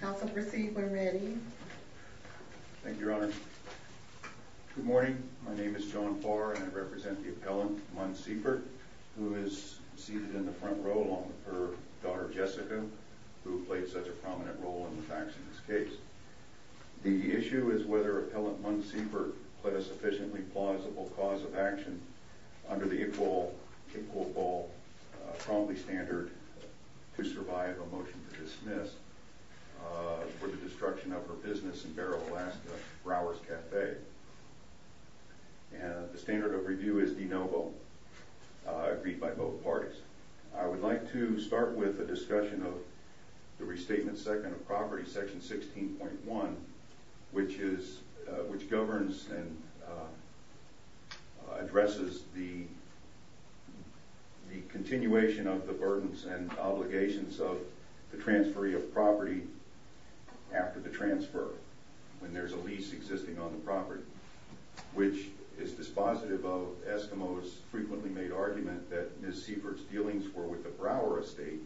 Council, proceed when ready. Thank you, Your Honor. Good morning, my name is John Farr and I represent the appellant, Munn Seifert, who is seated in the front row along with her daughter, Jessica, who played such a prominent role in the faxing this case. The issue is whether Appellant Munn Seifert put a sufficiently plausible cause of action under the equal, quote-unquote, promptly standard to survive a motion to dismiss for the destruction of her business in Barrow, Alaska, Brower's Cafe. And the standard of review is de novo, agreed by both parties. I would like to start with a discussion of the Restatement Second of Property, Section 16.1, which is, which governs and the continuation of the burdens and obligations of the transferee of property after the transfer, when there's a lease existing on the property, which is dispositive of Eskimos' frequently made argument that Ms. Seifert's dealings were with the Brower Estate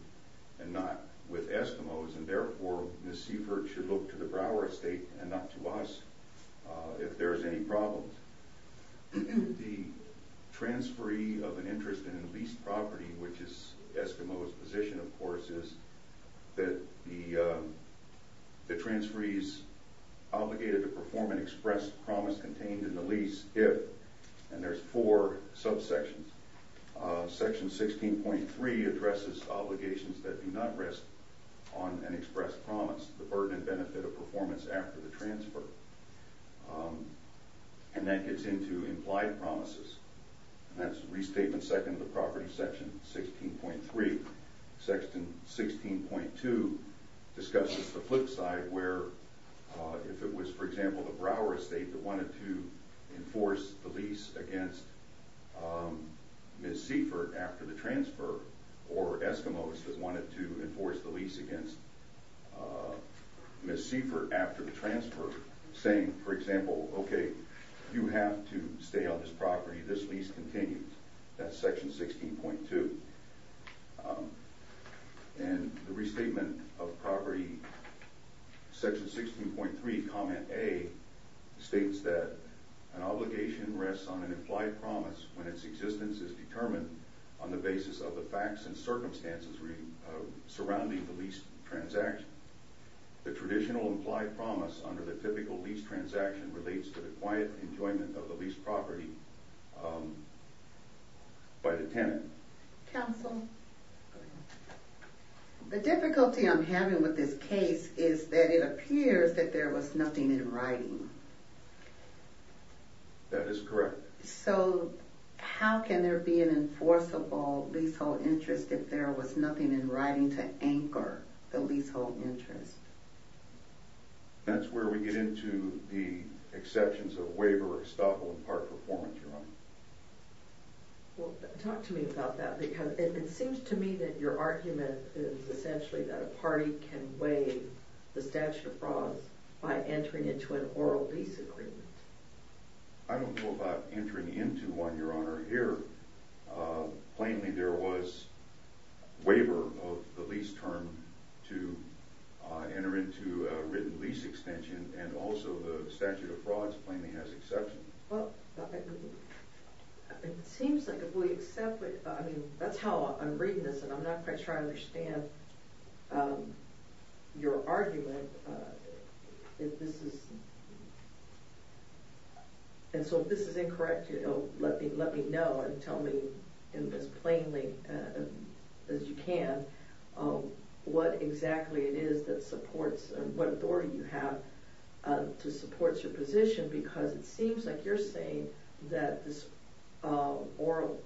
and not with Eskimos, and therefore Ms. Seifert should look to the Brower Estate and not to us if there is any problem. The transferee of an interest in a leased property, which is Eskimos' position, of course, is that the transferee is obligated to perform an express promise contained in the lease if, and there's four subsections, Section 16.3 addresses obligations that do not rest on an express promise, the burden and benefit of performance after the transfer. And that gets into implied promises. That's Restatement Second of the Property, Section 16.3. Section 16.2 discusses the flip side, where if it was, for example, the Brower Estate that wanted to enforce the lease against Ms. Seifert after the transfer, or Eskimos that wanted to enforce the lease against Ms. Seifert after the transfer, saying, for example, okay, you have to stay on this property, this lease continues. That's Section 16.2. And the Restatement of Property, Section 16.3, Comment A, states that an obligation rests on an implied promise when its existence is determined on the basis of the facts and circumstances surrounding the lease transaction. The traditional implied promise under the typical lease transaction relates to the quiet enjoyment of the lease property, um, by the tenant. Counsel. The difficulty I'm having with this case is that it appears that there was nothing in writing. That is correct. So how can there be an enforceable leasehold interest if there was nothing in writing to anchor the leasehold interest? That's where we get into the exceptions of waiver, estoppel, and part performance, Your Honor. Well, talk to me about that, because it seems to me that your argument is essentially that a party can waive the statute of frauds by entering into an oral lease agreement. I don't know about entering into one, Your Honor. Here, plainly, there was to enter into a written lease extension, and also the statute of frauds plainly has exception. It seems like if we accept it, I mean, that's how I'm reading this, and I'm not quite sure I understand your argument. If this is and so this is incorrect, you know, let me let me know and tell me in this plainly as you can. What exactly it is that supports what authority you have to support your position, because it seems like you're saying that this oral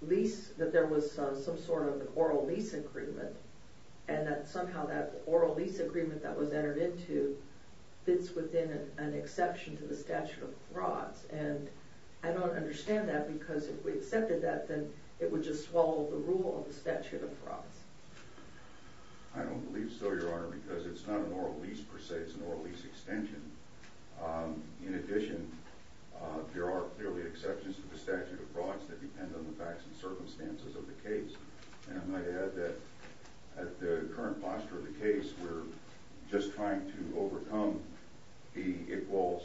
lease that there was some sort of oral lease agreement and that somehow that oral lease agreement that was entered into fits within an exception to the statute of frauds. And I don't understand that, because if we accepted that, then it would just swallow the rule of the statute of frauds. I don't believe so, Your Honor, because it's not an oral lease, per se. It's an oral lease extension. In addition, there are clearly exceptions to the statute of frauds that depend on the facts and circumstances of the case. And I might add that at the current posture of the case, we're just trying to overcome the equals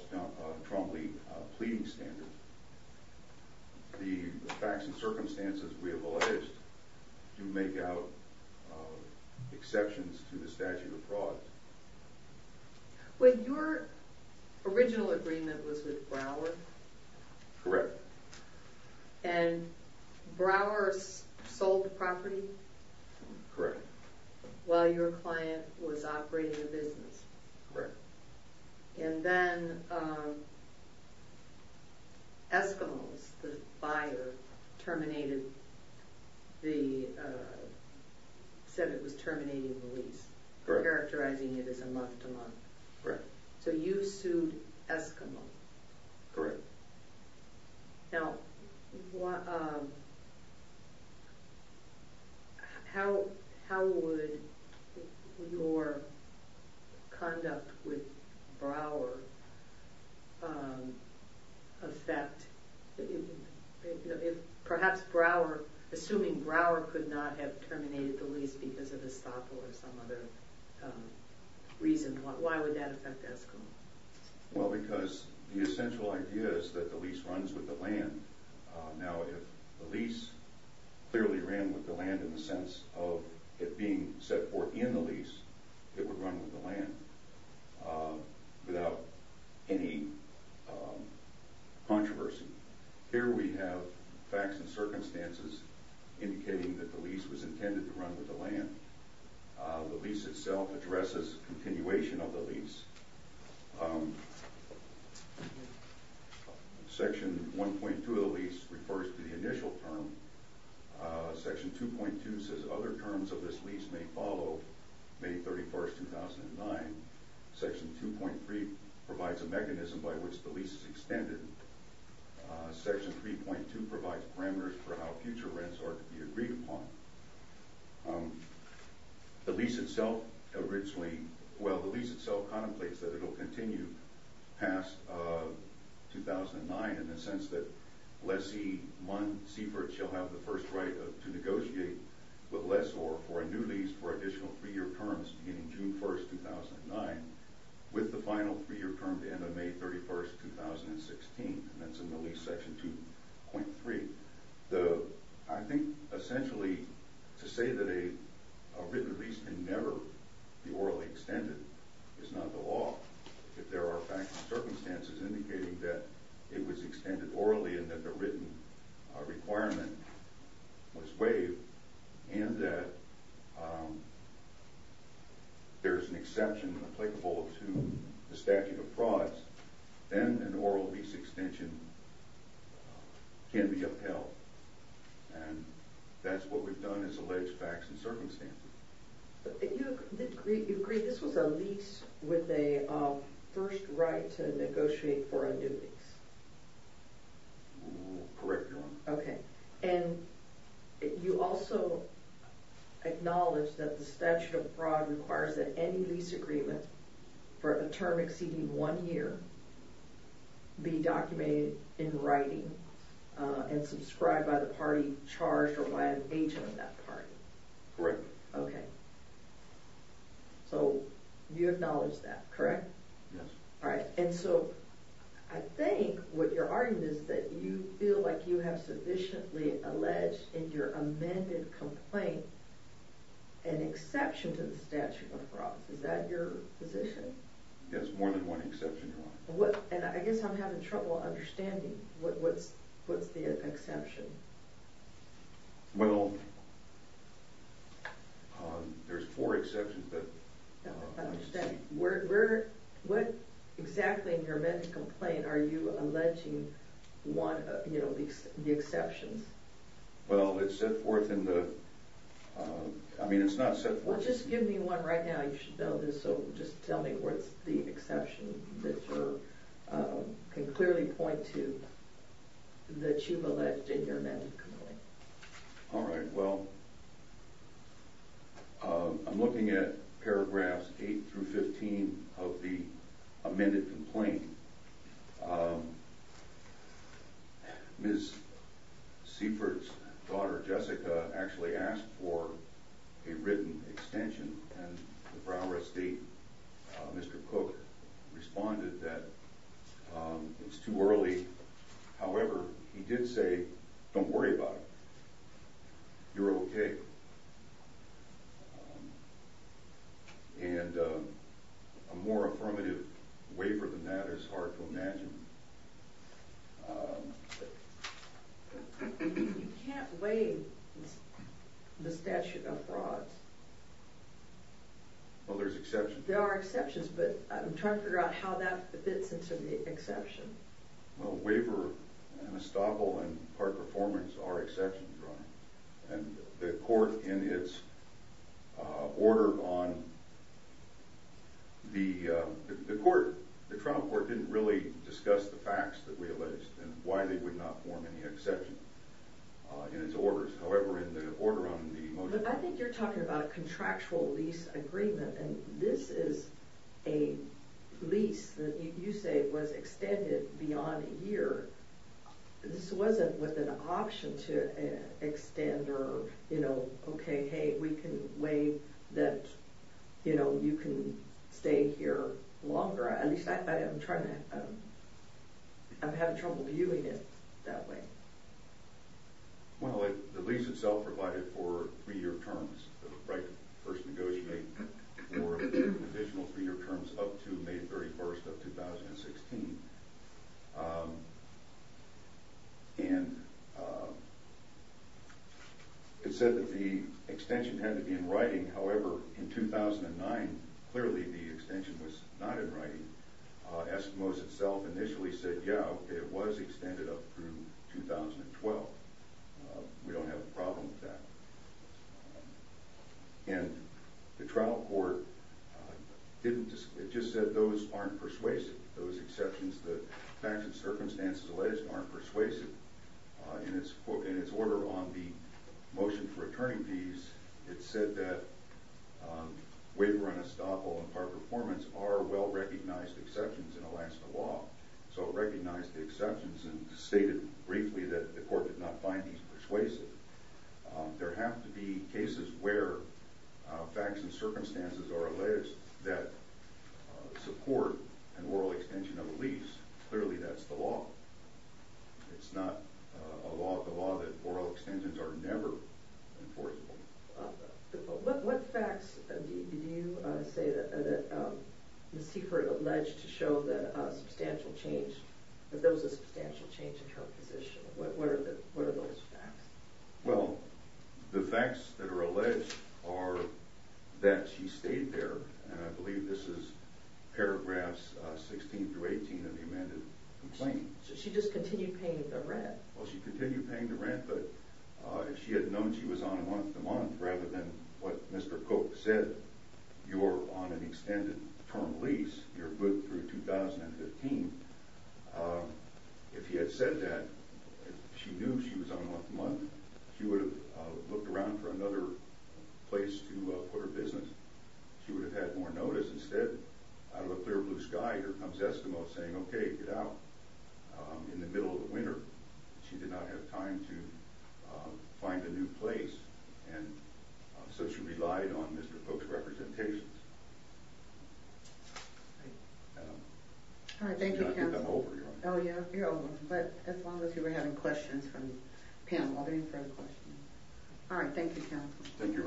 Trombley pleading standard. Mhm. The facts and circumstances we have alleged to make out exceptions to the statute of fraud. When your original agreement was with Brower, correct? And Brower's sold property. Correct. While your client was operating a business, right? And then, um Eskimos, the buyer terminated the said it was terminating the lease, characterizing it as a month to month. Right. So you sued Eskimo. Correct. Now, how how would your conduct with Brower affect perhaps Brower, assuming Brower could not have terminated the lease because of a stop or some other reason? Why would that affect Eskimo? Well, because the essential idea is that the lease runs with the land. Now, if the lease clearly ran with the land in the sense of it being set for in the lease, it would run with the land without any controversy. Here we have facts and circumstances indicating that the lease was intended to run with the land. The lease itself addresses continuation of the lease. Section 1.2 of the lease refers to the initial term. Section 2.2 says other terms of this lease may follow May 31st, 2009. Section 2.3 provides a mechanism by which the lease is extended. Section 3.2 provides parameters for how future rents are to be agreed upon. The lease itself originally, well, the lease itself contemplates that it will continue past 2009 in the sense that lessee 1 Seifert shall have the first right to negotiate with lessor for a new lease for additional three year terms beginning June 1st, 2009 with the final three year term to end on May 31st, 2016. And that's in the lease section 2.3. I think essentially to say that a written lease can never be orally extended is not the law. If there are facts and circumstances indicating that it was extended orally and that the written requirement was waived and that there's an exception applicable to the statute of frauds, then an oral lease extension can be upheld. And that's what we've done is allege facts and circumstances. But you agree this was a lease with a first right to negotiate for a new lease? Correct, Your Honor. Okay. And you also acknowledge that the statute of fraud requires that any lease agreement for a term exceeding one year be documented in writing and subscribed by the party charged or by an agent of that party. Correct. Okay. So you acknowledge that, correct? Yes. All right. And so I think what you're arguing is that you feel like you have sufficiently alleged in your amended complaint an exception to the statute of fraud. Your position? Yes. More than one exception, Your Honor. And I guess I'm having trouble understanding what's the exception. Well, there's four exceptions, but... I don't understand. What exactly in your amended complaint are you alleging the exceptions? Well, it's set forth in the... I mean, it's not set forth in the... Well, just give me one right now. You should know this. So just tell me what's the exception that you can clearly point to that you've alleged in your amended complaint. All right. Well, I'm looking at paragraphs eight through 15 of the amended complaint. Ms. Seifert's daughter, Jessica, actually asked for a written extension, and the Brown RISD, Mr. Cook, responded that it's too early. However, he did say, don't worry about it. You're OK. And a more affirmative waiver than that is hard to imagine. You can't waive the statute of frauds. Well, there's exceptions. There are exceptions, but I'm trying to figure out how that fits into the exception. Well, waiver and estoppel and part performance are exceptions, Your Honor. And the court, in its order on the court, the trial court didn't really discuss the facts that we alleged and why they would not form any exception in its orders. However, in the order on the motion... But I think you're talking about a contractual lease agreement, and this is a lease that you say was extended beyond a year. This wasn't with an option to extend or, you know, OK, hey, we can waive that, you know, you can stay here longer. At least, I'm having trouble viewing it that way. Well, the lease itself provided for three-year terms, the right to first negotiate for additional three-year terms up to May 31st of 2016. And it said that the extension had to be in writing. However, in 2009, clearly, the extension was not in writing. Eskimos itself initially said, yeah, OK, it was extended up through 2012. We don't have a problem with that. And the trial court didn't... It just said those aren't persuasive, those exceptions, the facts and circumstances alleged aren't persuasive. In its order on the motion for returning these, it said that waiver and estoppel and par performance are well-recognized exceptions in Alaska law. So it recognized the exceptions and stated briefly that the court did not find these persuasive. There have to be cases where facts and circumstances are alleged that support an oral extension of a lease. Clearly, that's the law. It's not the law that oral extensions are never enforceable. What facts did you say that Ms. Seifert alleged to show that a substantial change, that there was a substantial change in her position? What are those facts? Well, the facts that are alleged are that she stayed there. And I believe this is paragraphs 16 through 18 of the amended complaint. So she just continued paying the rent? Well, she continued paying the rent. But if she had known she was on month to month, rather than what Mr. Koch said, you're on an extended term lease, you're good through 2015. If he had said that, if she knew she was on month to month, she would have looked around for another place to put her business. She would have had more notice. Instead, out of the clear blue sky, here comes Estimo saying, OK, get out. In the middle of the winter, she did not have time to find a new place. And so she relied on Mr. Koch's representations. All right, thank you. Oh, yeah, but as long as you were having questions from the panel, I'll do it for the question. All right. Thank you. Thank you.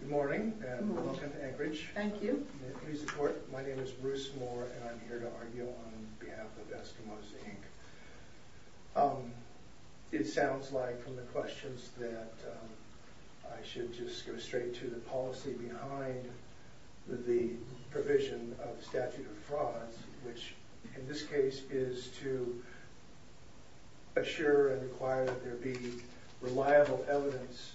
Good morning and welcome to Anchorage. Thank you. Please support. My name is Bruce Moore and I'm here to argue on behalf of Estimo Inc. It sounds like from the questions that I should just go straight to the policy behind the provision of statute of frauds, which in this case is to. Assure and require that there be reliable evidence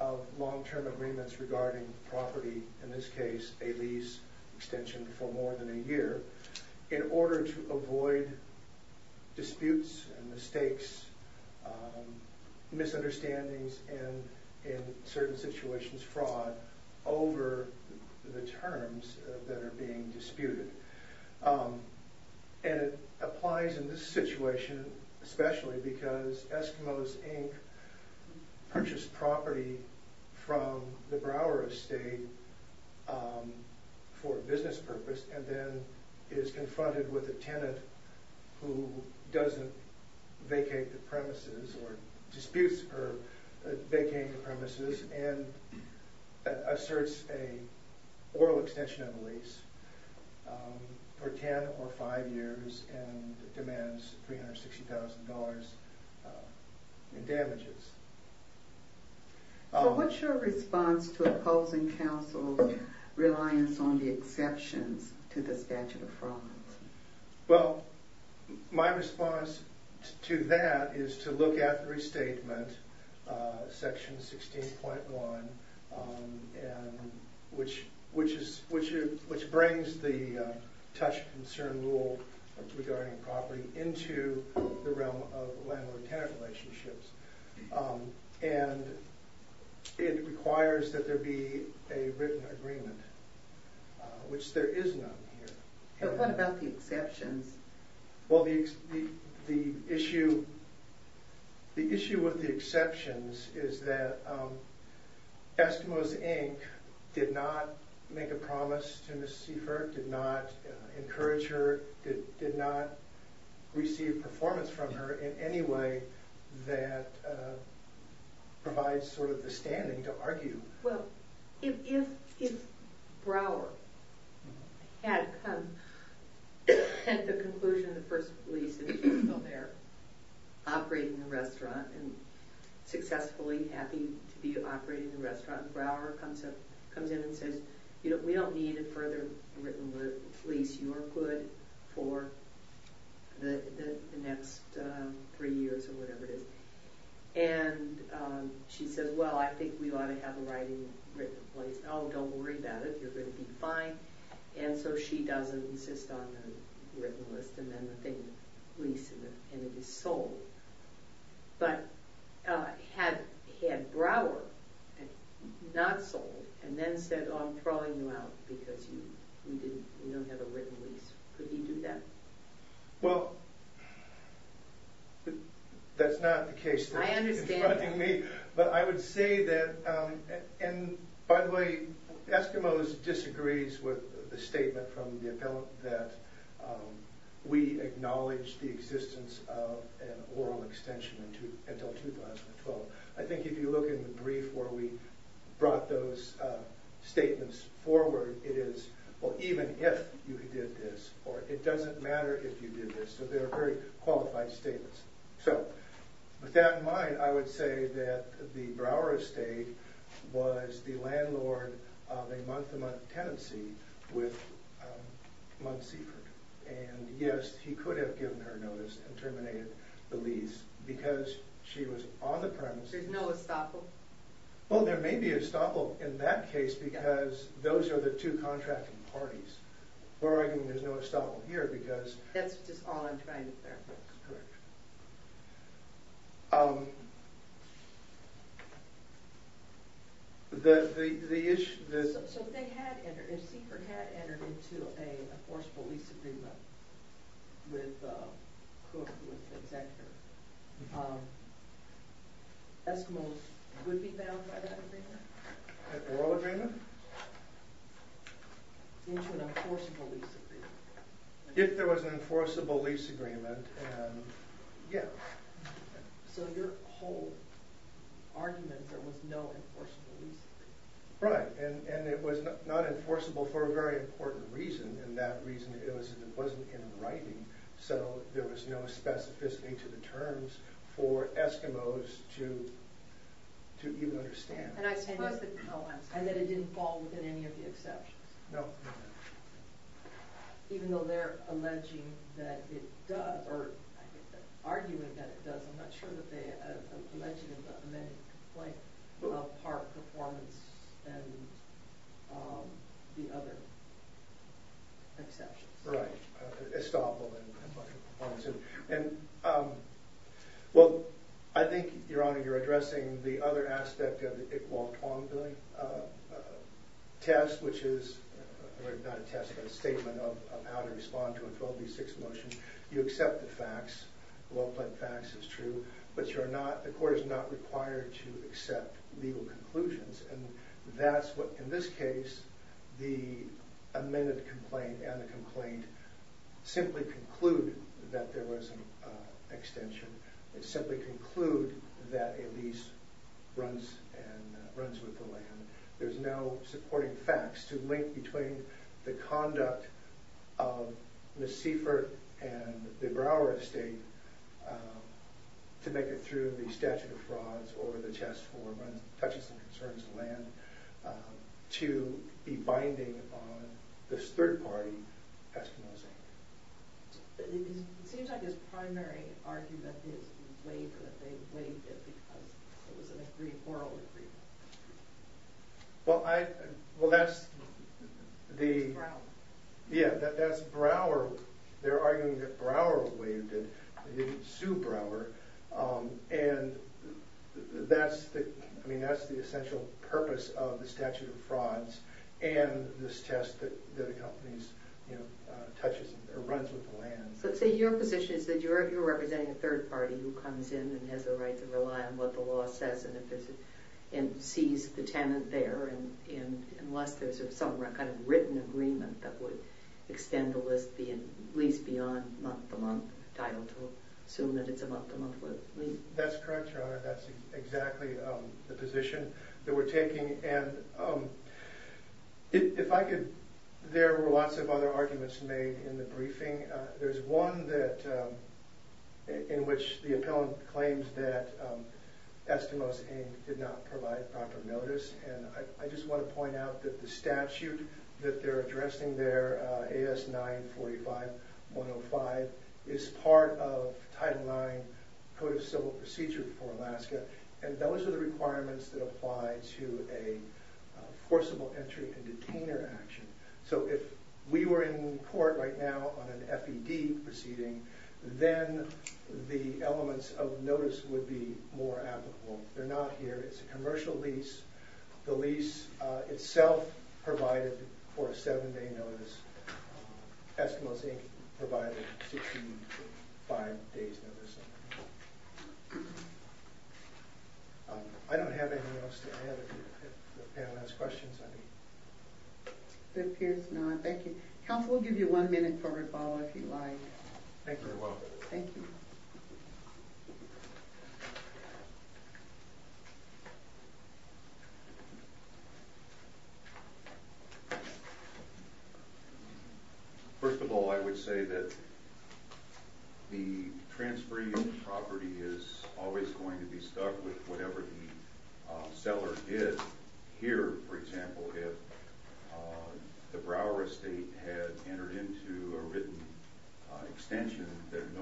of long term agreements regarding property, in this case, a lease extension for more than a year in order to avoid disputes and mistakes, misunderstandings and in certain situations, fraud over the terms that are being disputed. And it applies in this situation especially because Eskimos Inc. purchased property from the Brower estate for a business purpose and then is confronted with a tenant who doesn't vacate the premises or disputes or vacating the premises and asserts a oral extension of the lease. For ten or five years and demands three hundred sixty thousand dollars in damages. So what's your response to opposing counsel's reliance on the exceptions to the statute of fraud? Well, my response to that is to look at the restatement section 16.1 and which is, which brings the touch concern rule regarding property into the realm of landlord-tenant relationships. And it requires that there be a written agreement, which there is none here. But what about the exceptions? Well, the issue, the issue with the exceptions is that Eskimos Inc. did not make a promise to Ms. Seifert, did not encourage her, did not receive performance from her in any way that provides sort of the standing to argue. Well, if Brower had come to the conclusion of the first lease, operating the restaurant and successfully happy to be operating the restaurant, Brower comes up, comes in and says, you know, we don't need a further written lease. You are good for the next three years or whatever it is. And she says, well, I think we ought to have a writing written place. Oh, don't worry about it. You're going to be fine. And so she doesn't insist on the written list. And then the thing leases and it is sold. But had Brower not sold and then said, oh, I'm throwing you out because we didn't, we don't have a written lease, could he do that? Well, that's not the case. I understand. But I would say that and by the way, Eskimos disagrees with the statement that we acknowledge the existence of an oral extension until 2012. I think if you look in the brief where we brought those statements forward, it is, well, even if you did this or it doesn't matter if you did this. So they're very qualified statements. So with that in mind, I would say that the Brower estate was the landlord of a tenancy with Monsiefer. And yes, he could have given her notice and terminated the lease because she was on the premise. There's no estoppel. Well, there may be estoppel in that case because those are the two contracting parties. We're arguing there's no estoppel here because that's just all I'm trying to clarify. Correct. So if Siefert had entered into an enforceable lease agreement with Cooke, with the executor, Eskimos would be bound by that agreement? An oral agreement? Into an enforceable lease agreement. If there was an enforceable lease agreement, yeah. So your whole argument, there was no enforceable lease agreement? Right. And it was not enforceable for a very important reason. And that reason was that it wasn't in writing. So there was no specificity to the terms for Eskimos to even understand. And I suppose that it didn't fall within any of the exceptions. No. Even though they're alleging that it does, or arguing that it does, I'm not sure that they are alleging an amended complaint of part performance and the other exceptions. Right. Estoppel. And well, I think, Your Honor, you're addressing the other aspect of the case, not a test, but a statement of how to respond to a 12B6 motion. You accept the facts, the law-applied facts is true, but the court is not required to accept legal conclusions. And that's what, in this case, the amended complaint and the complaint simply conclude that there was an extension. It simply conclude that a lease runs with the land. There's no supporting facts to link between the conduct of Ms. Seifert and the Brower estate to make it through the statute of frauds or the Chess Forum, touches some concerns of land, to be binding on this third party, Eskimos. It seems like his primary argument is that they waived it because it was an agreed moral agreement. Well, that's the... Brower. Yeah, that's Brower. They're arguing that Brower waived it. They didn't sue Brower. And that's the essential purpose of the statute of frauds and this test that accompanies, you know, touches or runs with the land. So your position is that you're representing a third party who comes in and has the right to rely on what the law says and sees the tenant there unless there's some kind of written agreement that would extend the lease beyond month-to-month title to assume that it's a month-to-month lease? That's correct, Your Honor. That's exactly the position that we're taking. And if I could, there were lots of other arguments made in the briefing. There's one in which the appellant claims that Eskimos did not provide proper notice, and I just want to point out that the statute that they're addressing there, AS 945-105, is part of Title IX Code of Civil Procedure for Alaska, and those are the requirements that apply to a forcible entry and detainer action. So if we were in court right now on an FED proceeding, then the elements of notice would be more applicable. They're not here. It's a commercial lease. The lease itself provided for a seven-day notice. Eskimos Inc. provided a 65-day notice. I don't have anything else to add if the panel has questions. It appears not. Thank you. Counsel, we'll give you one minute for rebuttal if you'd like. Thank you very much. Thank you. First of all, I would say that the transferee property is always going to be stuck with whatever the seller did. Here, for example, if the Brower Estate had entered into a written extension and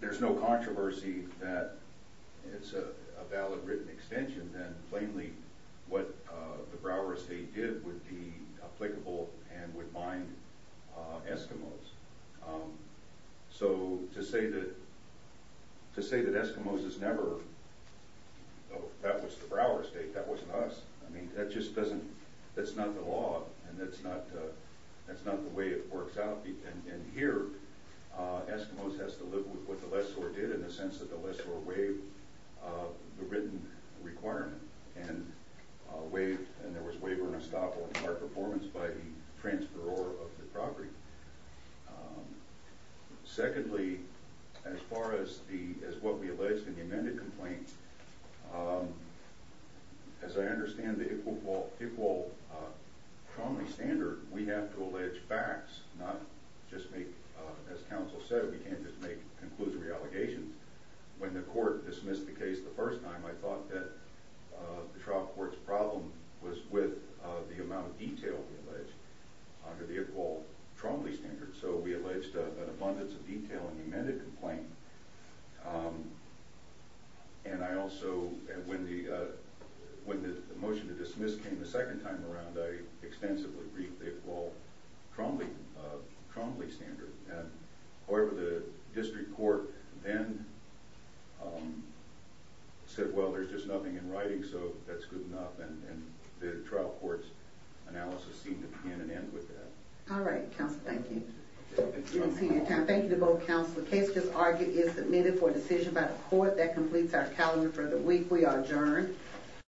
there's no controversy that it's a valid written extension, then plainly what the Brower Estate did would be applicable and would bind Eskimos. So to say that Eskimos is never, that was the Brower Estate. That wasn't us. That's not the law and that's not the way it works out. Here, Eskimos has to live with what the lessor did in the sense that the lessor waived the written requirement and there was waiver and estoppel in our performance by the transferor of the property. Secondly, as far as what we alleged in the amended complaint, as I understand the equal trauma standard, we have to allege facts, not just make, as counsel said, we can't just make conclusory allegations. When the court dismissed the case the first time, I thought that the trial court's problem was with the amount of detail under the equal trauma standard. So we alleged an abundance of detail in the amended complaint and I also, when the motion to dismiss came the second time around, I extensively briefed the equal trauma standard. However, the district court then said, well, there's just nothing in writing so that's good enough and the trial court's analysis seemed to begin and end with that. All right, counsel. Thank you. Thank you to both counsel. The case is argued and submitted for decision by the court. That completes our calendar for the week. We are adjourned.